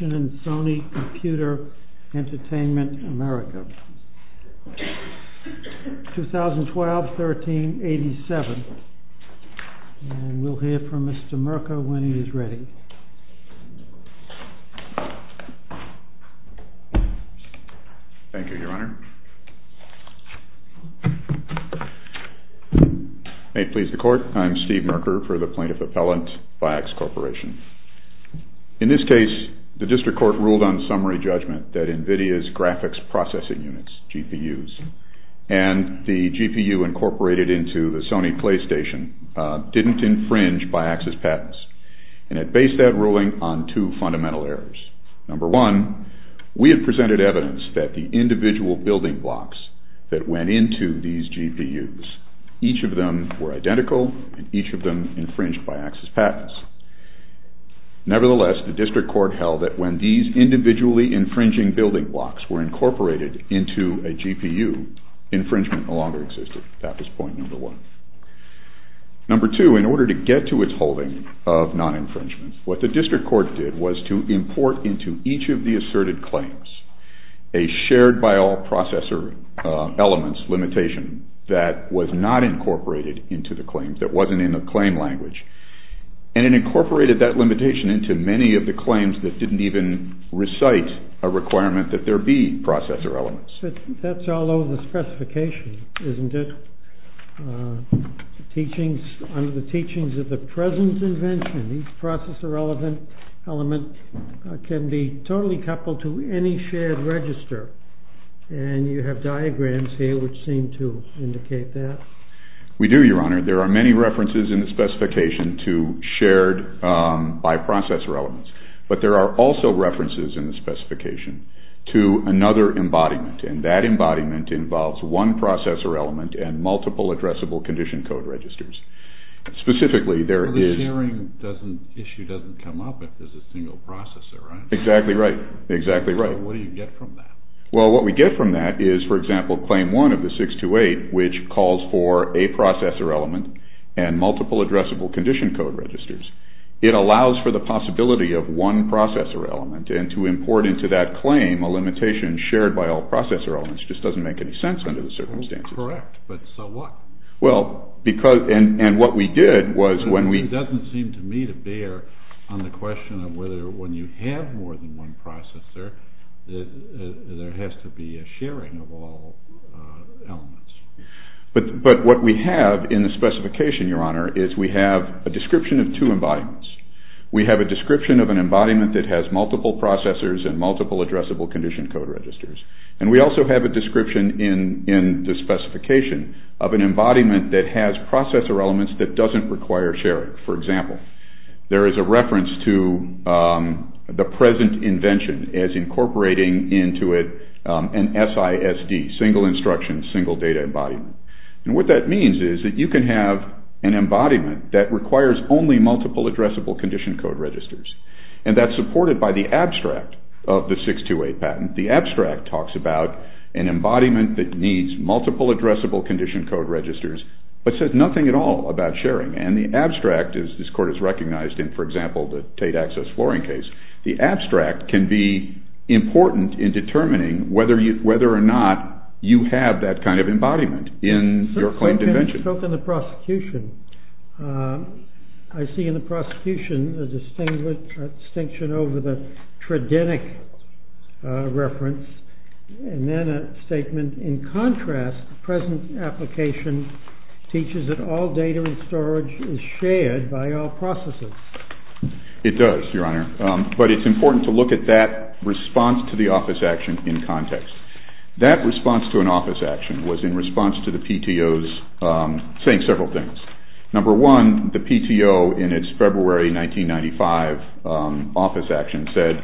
in Sony Computer Entertainment America, 2012-13-87. And we'll hear from Mr. Merker when he's ready. Thank you, Your Honor. May it please the Court, I'm Steve Merker for the Plaintiff Appellant. In this case, the District Court ruled on summary judgment that NVIDIA's graphics processing units, GPUs, and the GPU incorporated into the Sony PlayStation, didn't infringe BIAX's patents. And it based that ruling on two fundamental errors. Number one, we had presented evidence that the individual building blocks that went into these GPUs, each of them were identical, and each of them infringed BIAX's patents. Nevertheless, the District Court held that when these individually infringing building blocks were incorporated into a GPU, infringement no longer existed. That was point number one. Number two, in order to get to its holding of non-infringement, what the District Court did was to import into each of the asserted claims a shared-by-all processor elements limitation that was not incorporated into the claims, that wasn't in the claim language. And it incorporated that limitation into many of the claims that didn't even recite a requirement that there be processor elements. That's all over the specification, isn't it? Under the teachings of the present invention, these processor element can be totally coupled to any shared register. And you have diagrams here which seem to indicate that. We do, Your Honor. There are many references in the specification to shared-by-processor elements. But there are also references in the specification to another embodiment, and that embodiment involves one processor element and multiple addressable condition code registers. Specifically, there is... Well, the sharing issue doesn't come up if there's a single processor, right? Exactly right. Exactly right. So what do you get from that? Well, what we get from that is, for example, Claim 1 of the 628, which calls for a processor element and multiple addressable condition code registers. It allows for the possibility of one processor element. And to import into that claim a limitation shared by all processor elements just doesn't make any sense under the circumstances. Correct, but so what? Well, because... and what we did was when we... It doesn't seem to me to bear on the question of whether when you have more than one processor, there has to be a sharing of all elements. But what we have in the specification, Your Honor, is we have a description of two embodiments. We have a description of an embodiment that has multiple processors and multiple addressable condition code registers. And we also have a description in the specification of an embodiment that has processor elements that doesn't require sharing. For example, there is a reference to the present invention as incorporating into it an SISD, single instruction, single data embodiment. And what that means is that you can have an embodiment that requires only multiple addressable condition code registers. And that's supported by the abstract of the 628 patent. The abstract talks about an embodiment that needs multiple addressable condition code registers, but says nothing at all about sharing. And the abstract, as this Court has recognized in, for example, the Tate access flooring case, the abstract can be important in determining whether or not you have that kind of embodiment in your claimed invention. So can the prosecution. I see in the prosecution a distinction over the tridentic reference, and then a statement, in contrast, the present application teaches that all data and storage is shared by all processors. It does, Your Honor. But it's important to look at that response to the office action in context. That response to an office action was in response to the PTO's saying several things. Number one, the PTO in its February 1995 office action said,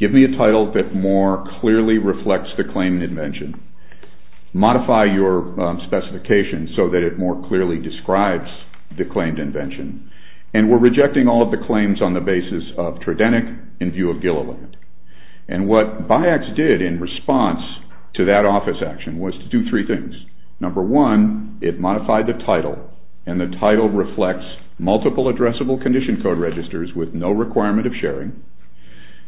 give me a title that more clearly reflects the claimed invention. Modify your specifications so that it more clearly describes the claimed invention. And we're rejecting all of the claims on the basis of tridentic in view of Gilliland. And what BIACS did in response to that office action was to do three things. Number one, it modified the title and the title reflects multiple addressable condition code registers with no requirement of sharing.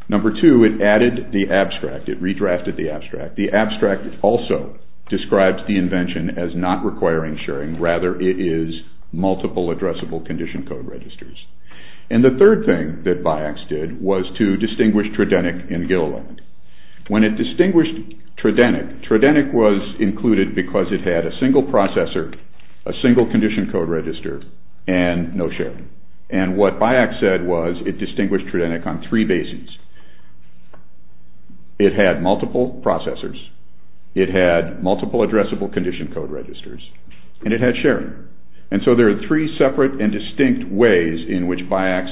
Number two, it added the abstract. It redrafted the abstract. The abstract also describes the invention as not requiring sharing. Rather, it is multiple addressable condition code registers. And the third thing that BIACS did was to distinguish tridentic in Gilliland. When it distinguished tridentic, tridentic was included because it had a single processor, a single condition code register, and no sharing. And what BIACS said was it distinguished tridentic on three bases. It had multiple processors. It had multiple addressable condition code registers. And it had sharing. And so there are three separate and distinct ways in which BIACS...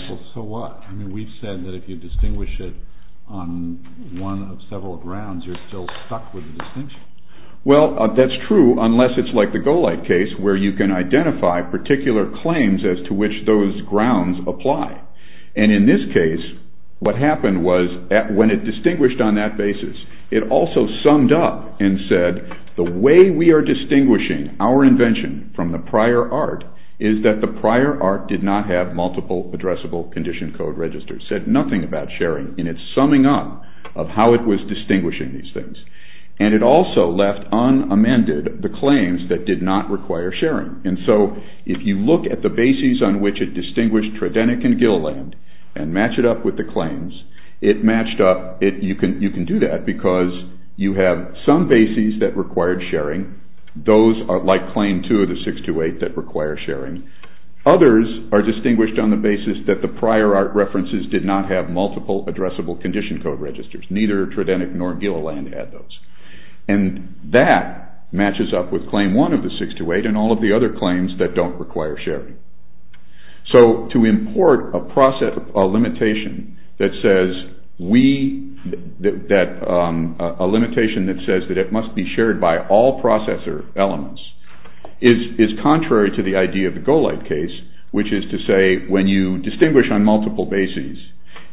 Well, that's true unless it's like the Golight case where you can identify particular claims as to which those grounds apply. And in this case, what happened was when it distinguished on that basis, it also summed up and said, the way we are distinguishing our invention from the prior art is that the prior art did not have multiple addressable condition code registers. It said nothing about sharing in its summing up of how it was distinguishing these things. And it also left unamended the claims that did not require sharing. And so if you look at the bases on which it distinguished tridentic in Gilliland and match it up with the claims, you can do that because you have some bases that required sharing. Those are like Claim 2 of the 628 that require sharing. Others are distinguished on the basis that the prior art references did not have multiple addressable condition code registers. Neither tridentic nor Gilliland had those. And that matches up with Claim 1 of the 628 and all of the other claims that don't require sharing. So to import a limitation that says that it must be shared by all processor elements is contrary to the idea of the Golight case, which is to say when you distinguish on multiple bases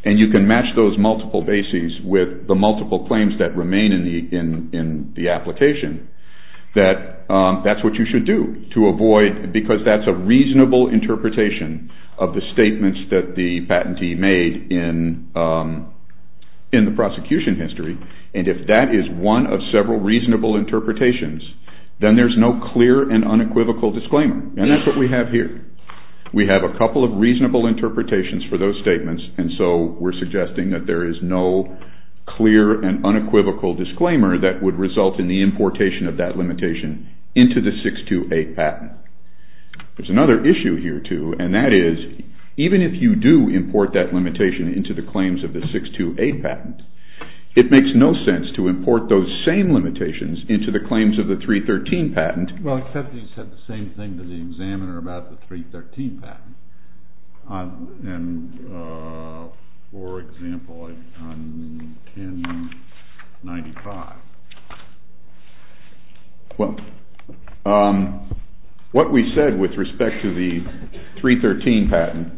and you can match those multiple bases with the multiple claims that remain in the application, that that's what you should do to avoid, because that's a reasonable interpretation of the statements that the patentee made in the prosecution history. And if that is one of several reasonable interpretations, then there's no clear and unequivocal disclaimer. And that's what we have here. We have a couple of reasonable interpretations for those statements, and so we're suggesting that there is no clear and unequivocal disclaimer that would result in the importation of that limitation into the 628 patent. There's another issue here, too, and that is even if you do import that limitation into the claims of the 628 patent, it makes no sense to import those same limitations into the claims of the 313 patent. Well, except that you said the same thing to the examiner about the 313 patent, for example, on 1095. Well, what we said with respect to the 313 patent...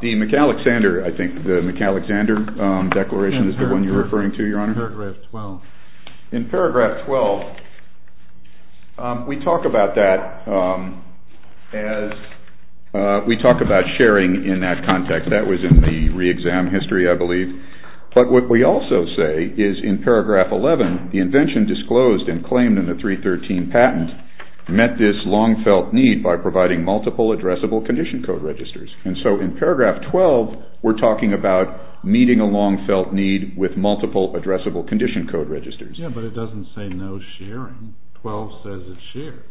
The McAlexander, I think, the McAlexander declaration is the one you're referring to, Your Honor? In paragraph 12. In paragraph 12, we talk about that as... we talk about sharing in that context. That was in the re-exam history, I believe. But what we also say is in paragraph 11, the invention disclosed and claimed in the 313 patent met this long-felt need by providing multiple addressable condition code registers. And so in paragraph 12, we're talking about meeting a long-felt need with multiple addressable condition code registers. Yeah, but it doesn't say no sharing. 12 says it shares.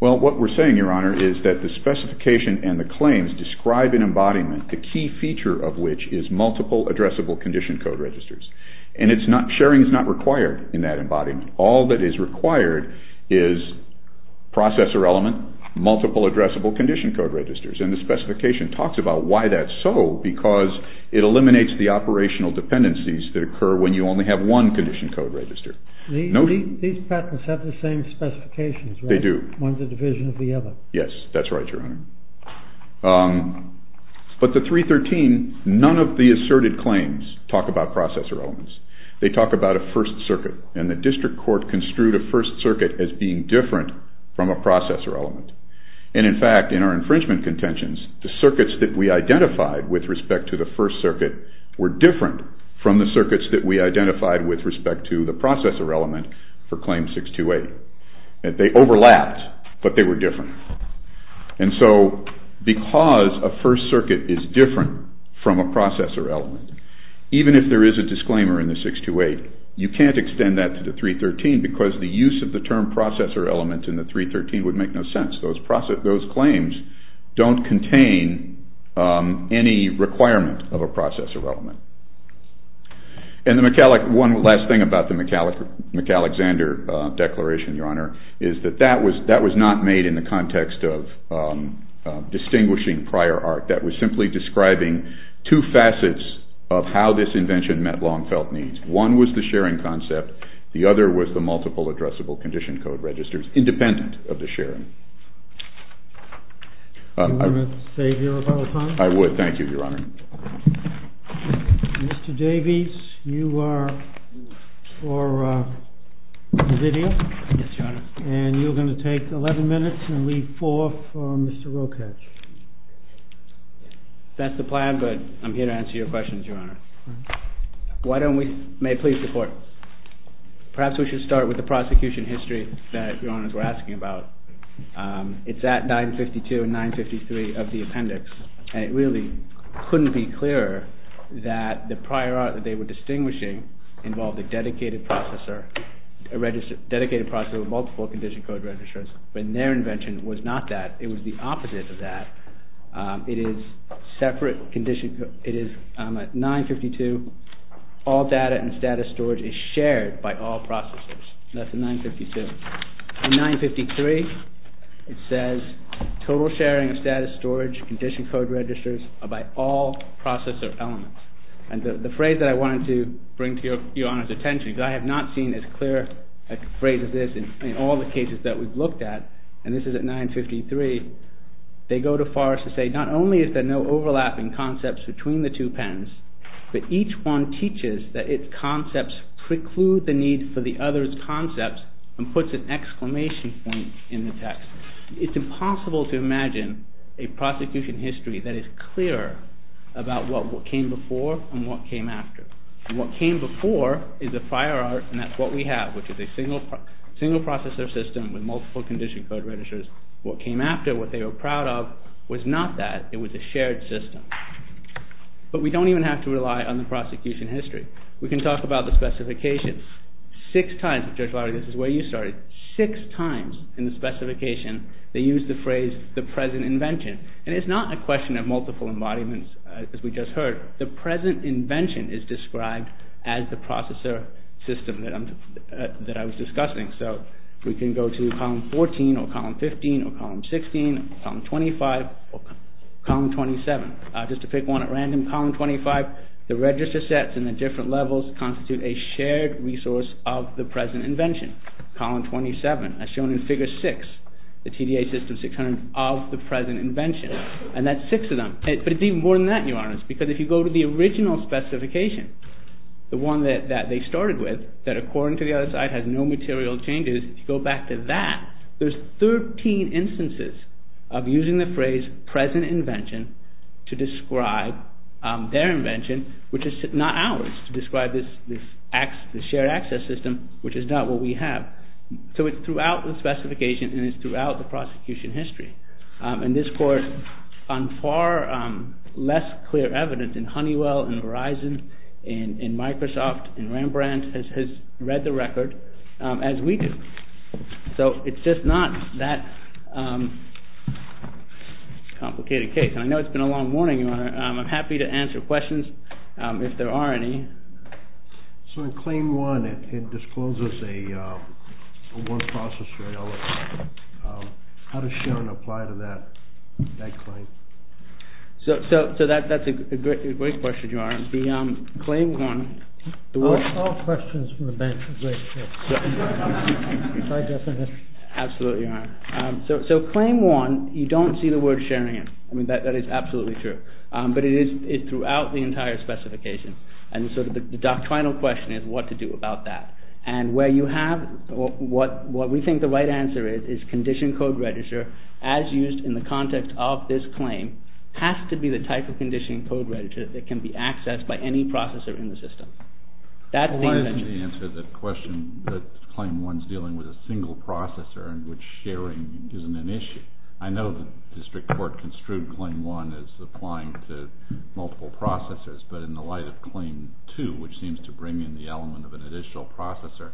Well, what we're saying, Your Honor, is that the specification and the claims describe an embodiment, the key feature of which is multiple addressable condition code registers. And sharing is not required in that embodiment. All that is required is processor element, multiple addressable condition code registers. And the specification talks about why that's so, because it eliminates the operational dependencies that occur when you only have one condition code register. These patents have the same specifications, right? They do. One's a division of the other. Yes, that's right, Your Honor. But the 313, none of the asserted claims talk about processor elements. They talk about a first circuit, and the district court construed a first circuit as being different from a processor element. And in fact, in our infringement contentions, the circuits that we identified with respect to the first circuit were different from the circuits that we identified with respect to the processor element for claim 628. They overlapped, but they were different. And so because a first circuit is different from a processor element, even if there is a disclaimer in the 628, you can't extend that to the 313 because the use of the term processor element in the 313 would make no sense. Those claims don't contain any requirement of a processor element. And one last thing about the McAlexander Declaration, Your Honor, is that that was not made in the context of distinguishing prior art. That was simply describing two facets of how this invention met long-felt needs. One was the sharing concept. The other was the multiple addressable condition code registers, independent of the sharing. Do you want to save your rebuttal time? I would. Thank you, Your Honor. Mr. Davies, you are for Olivia. Yes, Your Honor. And you're going to take 11 minutes and leave four for Mr. Rokach. That's the plan, but I'm here to answer your questions, Your Honor. Why don't we, may I please report? Perhaps we should start with the prosecution history that Your Honors were asking about. It's at 952 and 953 of the appendix. And it really couldn't be clearer that the prior art that they were distinguishing involved a dedicated processor, a dedicated processor with multiple condition code registers. But their invention was not that. It was the opposite of that. It is separate condition, it is 952, all data and status storage is shared by all processors. That's in 952. In 953, it says total sharing of status storage, condition code registers are by all processor elements. And the phrase that I wanted to bring to Your Honor's attention, because I have not seen as clear a phrase as this in all the cases that we've looked at, and this is at 953, they go to Forrest to say, not only is there no overlapping concepts between the two pens, but each one teaches that its concepts preclude the need for the other's concepts and puts an exclamation point in the text. It's impossible to imagine a prosecution history that is clearer about what came before and what came after. What came before is the prior art and that's what we have, which is a single processor system with multiple condition code registers. What came after, what they were proud of, was not that. It was a shared system. But we don't even have to rely on the prosecution history. We can talk about the specifications. Six times, Judge Lowry, this is where you started, six times in the specification they used the phrase the present invention. And it's not a question of multiple embodiments as we just heard. The present invention is described as the processor system that I was discussing. So we can go to column 14 or column 15 or column 16, column 25 or column 27. Just to pick one at random, column 25, the register sets and the different levels constitute a shared resource of the present invention. Column 27, as shown in figure 6, the TDA system 600 of the present invention. And that's six of them. But it's even more than that, Your Honor, because if you go to the original specification, the one that they started with, that according to the other side has no material changes, if you go back to that, there's 13 instances of using the phrase present invention to describe their invention, which is not ours, to describe this shared access system, which is not what we have. So it's throughout the specification and it's throughout the prosecution history. And this court, on far less clear evidence in Honeywell, in Verizon, in Microsoft, in Rembrandt, has read the record as we do. So it's just not that complicated a case. And I know it's been a long morning, Your Honor. I'm happy to answer questions if there are any. So in Claim 1, it discloses a word processor. How does sharing apply to that claim? So that's a great question, Your Honor. The Claim 1... All questions from the bench are great questions. Absolutely, Your Honor. So Claim 1, you don't see the word sharing in it. I mean, that is absolutely true. But it is throughout the entire specification. And so the doctrinal question is what to do about that. And where you have what we think the right answer is, is conditioned code register, as used in the context of this claim, has to be the type of conditioned code register that can be accessed by any processor in the system. Why didn't you answer the question that Claim 1 is dealing with a single processor in which sharing isn't an issue? I know the district court construed Claim 1 as applying to multiple processors, but in the light of Claim 2, which seems to bring in the element of an additional processor,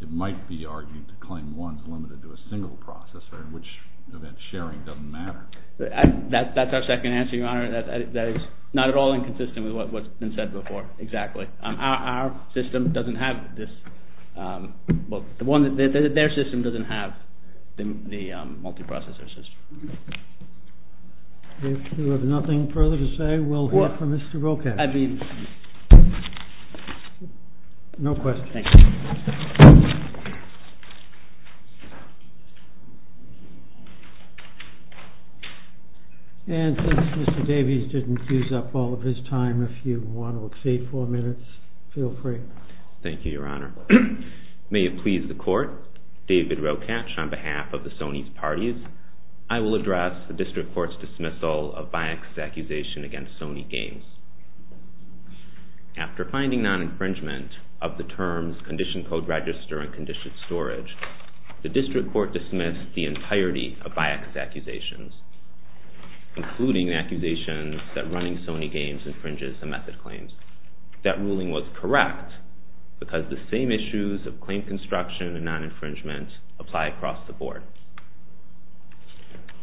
it might be argued that Claim 1 is limited to a single processor in which event sharing doesn't matter. That's our second answer, Your Honor. That is not at all inconsistent with what's been said before. Exactly. Our system doesn't have this. Their system doesn't have the multiprocessor system. If you have nothing further to say, we'll hear from Mr. Rokach. I mean... No questions. Thank you. And since Mr. Davies didn't use up all of his time, if you want to exceed four minutes, feel free. Thank you, Your Honor. May it please the Court, David Rokach on behalf of the Sony's Parties, I will address the district court's dismissal of Biax's accusation against Sony Games. After finding non-infringement of the terms Condition Code Register and Conditioned Storage, the district court dismissed the entirety of Biax's accusations, including accusations that running Sony Games infringes the method claims. That ruling was correct because the same issues of claim construction and non-infringement apply across the board.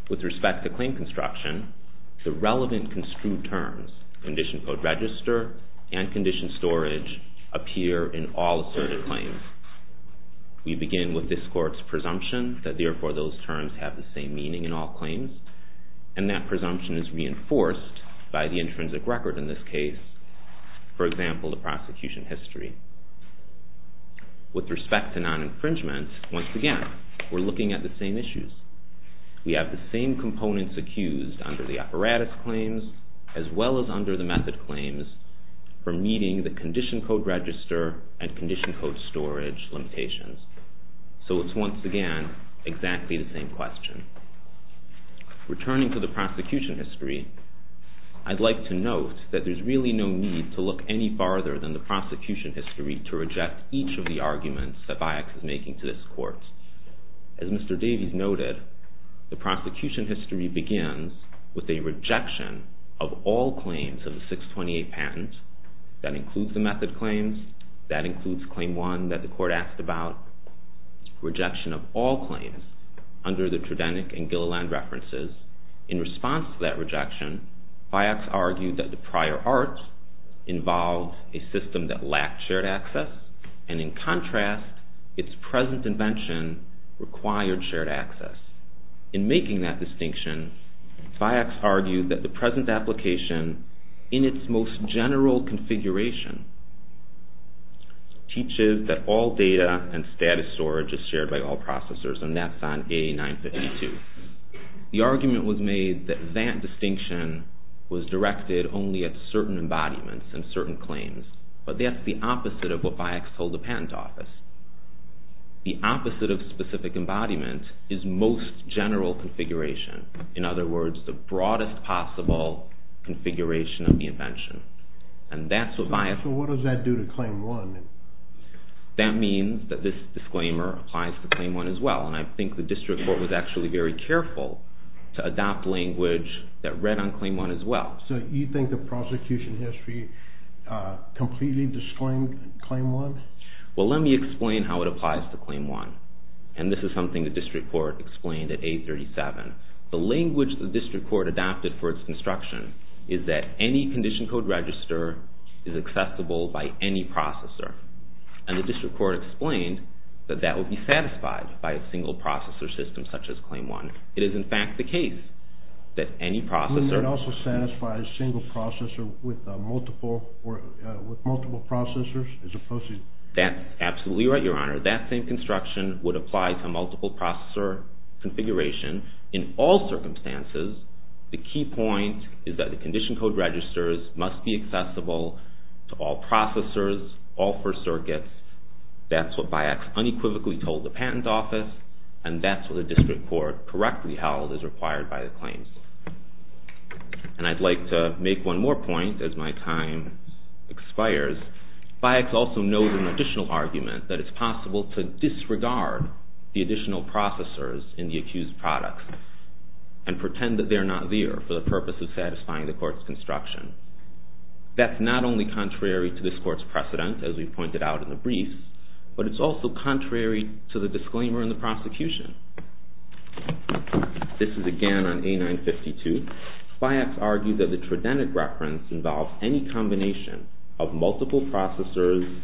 With respect to claim construction, the relevant construed terms, Condition Code Register and Conditioned Storage, appear in all asserted claims. We begin with this court's presumption that therefore those terms have the same meaning in all claims, and that presumption is reinforced by the intrinsic record in this case, for example, the prosecution history. With respect to non-infringement, once again, we're looking at the same issues. We have the same components accused under the apparatus claims, as well as under the method claims, for meeting the Condition Code Register and Conditioned Storage limitations. So it's, once again, exactly the same question. Returning to the prosecution history, I'd like to note that there's really no need to look any farther than the prosecution history to reject each of the arguments that Biax is making to this court. As Mr. Davies noted, the prosecution history begins with a rejection of all claims of the 628 patent. That includes the method claims, that includes Claim 1 that the court asked about, rejection of all claims under the Tridenic and Gilliland references. In response to that rejection, Biax argued that the prior arts involved a system that lacked shared access, and in contrast, its present invention required shared access. In making that distinction, Biax argued that the present application, in its most general configuration, teaches that all data and status storage is shared by all processors, and that's on A952. The argument was made that that distinction was directed only at certain embodiments and certain claims, but that's the opposite of what Biax told the Patent Office. The opposite of specific embodiment is most general configuration. In other words, the broadest possible configuration of the invention. And that's what Biax... So what does that do to Claim 1? That means that this disclaimer applies to Claim 1 as well, and I think the district court was actually very careful to adopt language that read on Claim 1 as well. So you think the prosecution history completely disclaimed Claim 1? Well, let me explain how it applies to Claim 1. And this is something the district court explained at 837. The language the district court adopted for its construction is that any condition code register is accessible by any processor. And the district court explained that that would be satisfied by a single processor system such as Claim 1. It is, in fact, the case that any processor... It would also satisfy a single processor with multiple processors as opposed to... That's absolutely right, Your Honor. That same construction would apply to a multiple processor configuration in all circumstances. The key point is that the condition code registers must be accessible to all processors, all four circuits. That's what Biax unequivocally told the Patent Office, and that's what the district court correctly held is required by the claims. And I'd like to make one more point as my time expires. Biax also knows an additional argument, that it's possible to disregard the additional processors in the accused products and pretend that they're not there for the purpose of satisfying the court's construction. That's not only contrary to this court's precedent, as we pointed out in the brief, but it's also contrary to the disclaimer in the prosecution. This is again on A952. Biax argued that the Tridentic reference involved any combination of multiple processors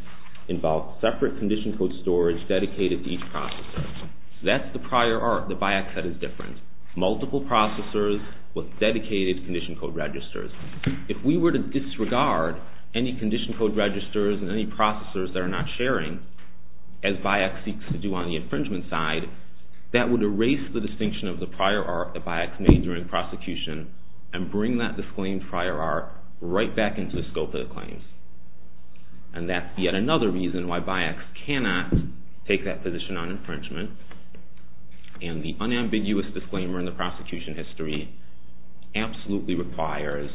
involved separate condition code storage dedicated to each processor. That's the prior art that Biax said is different. Multiple processors with dedicated condition code registers. If we were to disregard any condition code registers and any processors that are not sharing, as Biax seeks to do on the infringement side, that would erase the distinction of the prior art that Biax made during prosecution and bring that disclaimed prior art right back into the scope of the claims. And that's yet another reason why Biax cannot take that position on infringement. And the unambiguous disclaimer in the prosecution history absolutely requires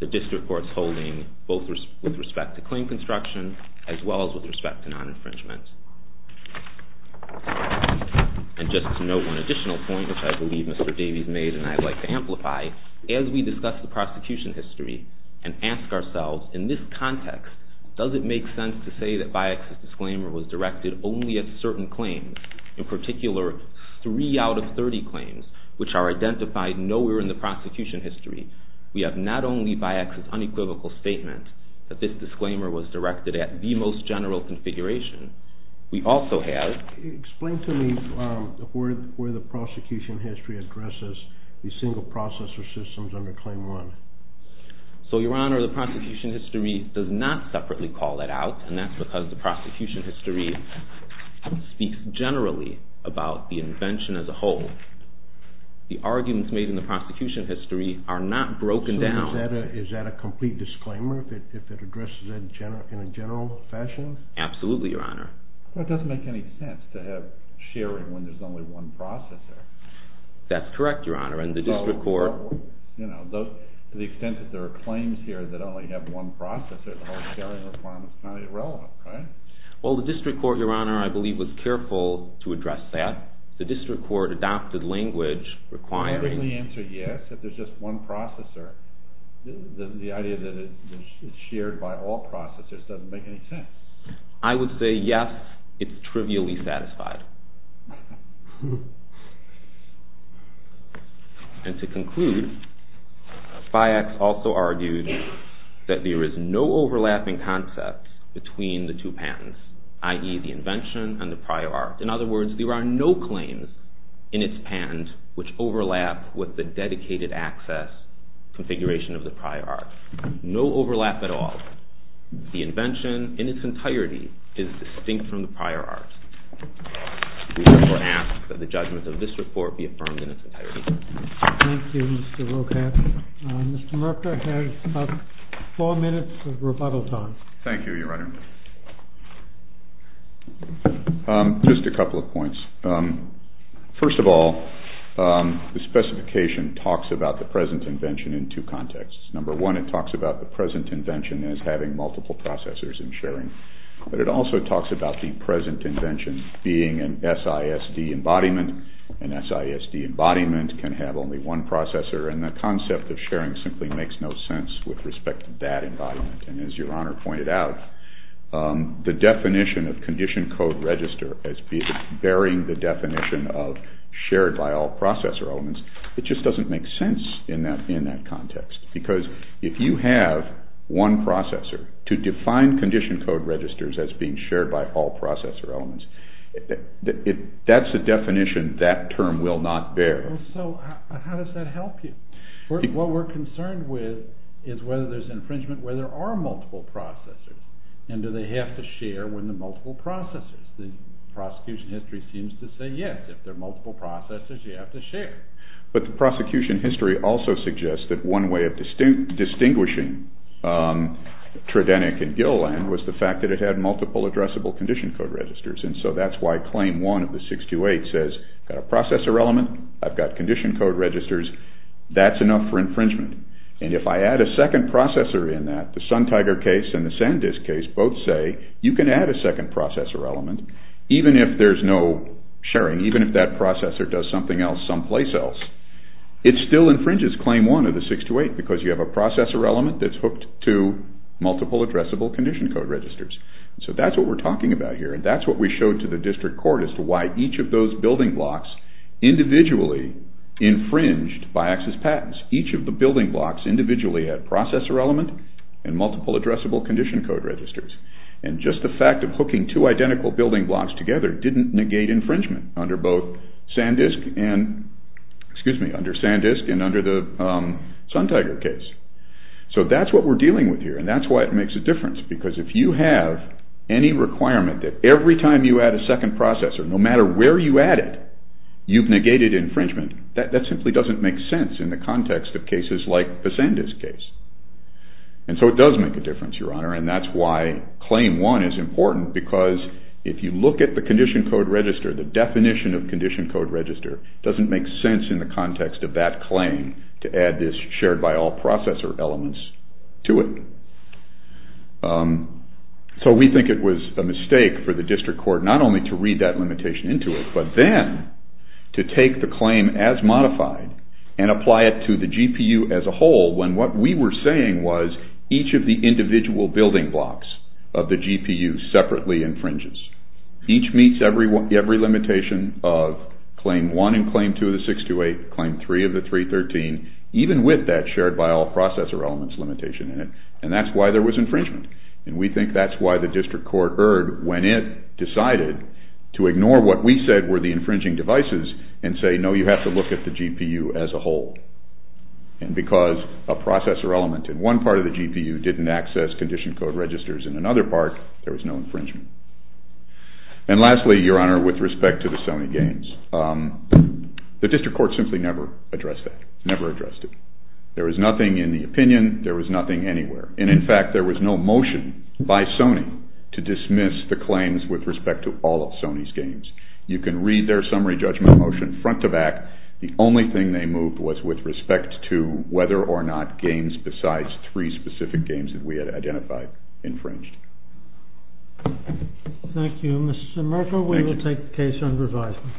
the district court's holding, both with respect to claim construction as well as with respect to non-infringement. And just to note one additional point, which I believe Mr. Davies made and I'd like to amplify, as we discuss the prosecution history and ask ourselves, in this context, does it make sense to say that Biax's disclaimer was directed only at certain claims, in particular three out of 30 claims, which are identified nowhere in the prosecution history, we have not only Biax's unequivocal statement that this disclaimer was directed at the most general configuration, we also have... Explain to me where the prosecution history addresses the single processor systems under Claim 1. So, Your Honor, the prosecution history does not separately call that out, and that's because the prosecution history speaks generally about the invention as a whole. The arguments made in the prosecution history are not broken down... So is that a complete disclaimer if it addresses that in a general fashion? Absolutely, Your Honor. Well, it doesn't make any sense to have sharing when there's only one processor. That's correct, Your Honor, and the district court... So, you know, to the extent that there are claims here that only have one processor, the whole sharing requirement's not irrelevant, right? Well, the district court, Your Honor, I believe was careful to address that. The district court adopted language requiring... I think the answer, yes, if there's just one processor, the idea that it's shared by all processors doesn't make any sense. I would say, yes, it's trivially satisfied. And to conclude, Biax also argued that there is no overlapping concept between the two patents, i.e. the invention and the prior art. In other words, there are no claims in its patent which overlap with the dedicated access configuration of the prior art. No overlap at all. The invention in its entirety is distinct from the prior art. We therefore ask that the judgment of this report be affirmed in its entirety. Thank you, Mr. Rocat. Mr. Murka has about four minutes of rebuttal time. Thank you, Your Honor. Just a couple of points. First of all, the specification talks about the present invention in two contexts. Number one, it talks about the present invention as having multiple processors in sharing, but it also talks about the present invention being an SISD embodiment. An SISD embodiment can have only one processor, and the concept of sharing simply makes no sense with respect to that embodiment. And as Your Honor pointed out, the definition of condition code register as bearing the definition of shared by all processor elements, it just doesn't make sense in that context. Because if you have one processor to define condition code registers as being shared by all processor elements, that's a definition that term will not bear. So how does that help you? What we're concerned with is whether there's infringement where there are multiple processors, and do they have to share when there are multiple processors. The prosecution history seems to say, yes, if there are multiple processors, you have to share. But the prosecution history also suggests that one way of distinguishing Tridenic and Gilliland was the fact that it had multiple addressable condition code registers, and so that's why Claim 1 of the 628 says, I've got a processor element, I've got condition code registers, that's enough for infringement. And if I add a second processor in that, the SunTiger case and the SanDisk case both say, you can add a second processor element even if there's no sharing, even if that processor does something else someplace else. It still infringes Claim 1 of the 628 because you have a processor element that's hooked to multiple addressable condition code registers. So that's what we're talking about here, and that's what we showed to the district court as to why each of those building blocks individually infringed BiAXIS patents. Each of the building blocks individually had a processor element and multiple addressable condition code registers. And just the fact of hooking two identical building blocks together didn't negate infringement under both SanDisk and, excuse me, under SanDisk and under the SunTiger case. So that's what we're dealing with here, and that's why it makes a difference, because if you have any requirement that every time you add a second processor, no matter where you add it, you've negated infringement. That simply doesn't make sense in the context of cases like the SanDisk case. And so it does make a difference, Your Honor, and that's why Claim 1 is important because if you look at the condition code register, the definition of condition code register doesn't make sense in the context of that claim to add this shared by all processor elements to it. So we think it was a mistake for the district court not only to read that limitation into it, but then to take the claim as modified and apply it to the GPU as a whole when what we were saying was each of the individual building blocks of the GPU separately infringes. Each meets every limitation of Claim 1 and Claim 2 of the 628, Claim 3 of the 313, even with that shared by all processor elements limitation in it. And that's why there was infringement, and we think that's why the district court erred when it decided to ignore what we said were the infringing devices and say, no, you have to look at the GPU as a whole. And because a processor element in one part of the GPU didn't access condition code registers in another part, there was no infringement. And lastly, Your Honor, with respect to the Sony games, the district court simply never addressed that, never addressed it. There was nothing in the opinion. There was nothing anywhere. And in fact, there was no motion by Sony to dismiss the claims with respect to all of Sony's games. You can read their summary judgment motion front to back. The only thing they moved was with respect to whether or not games besides three specific games that we had identified infringed. Thank you, Mr. Merkel. We will take the case on revisement.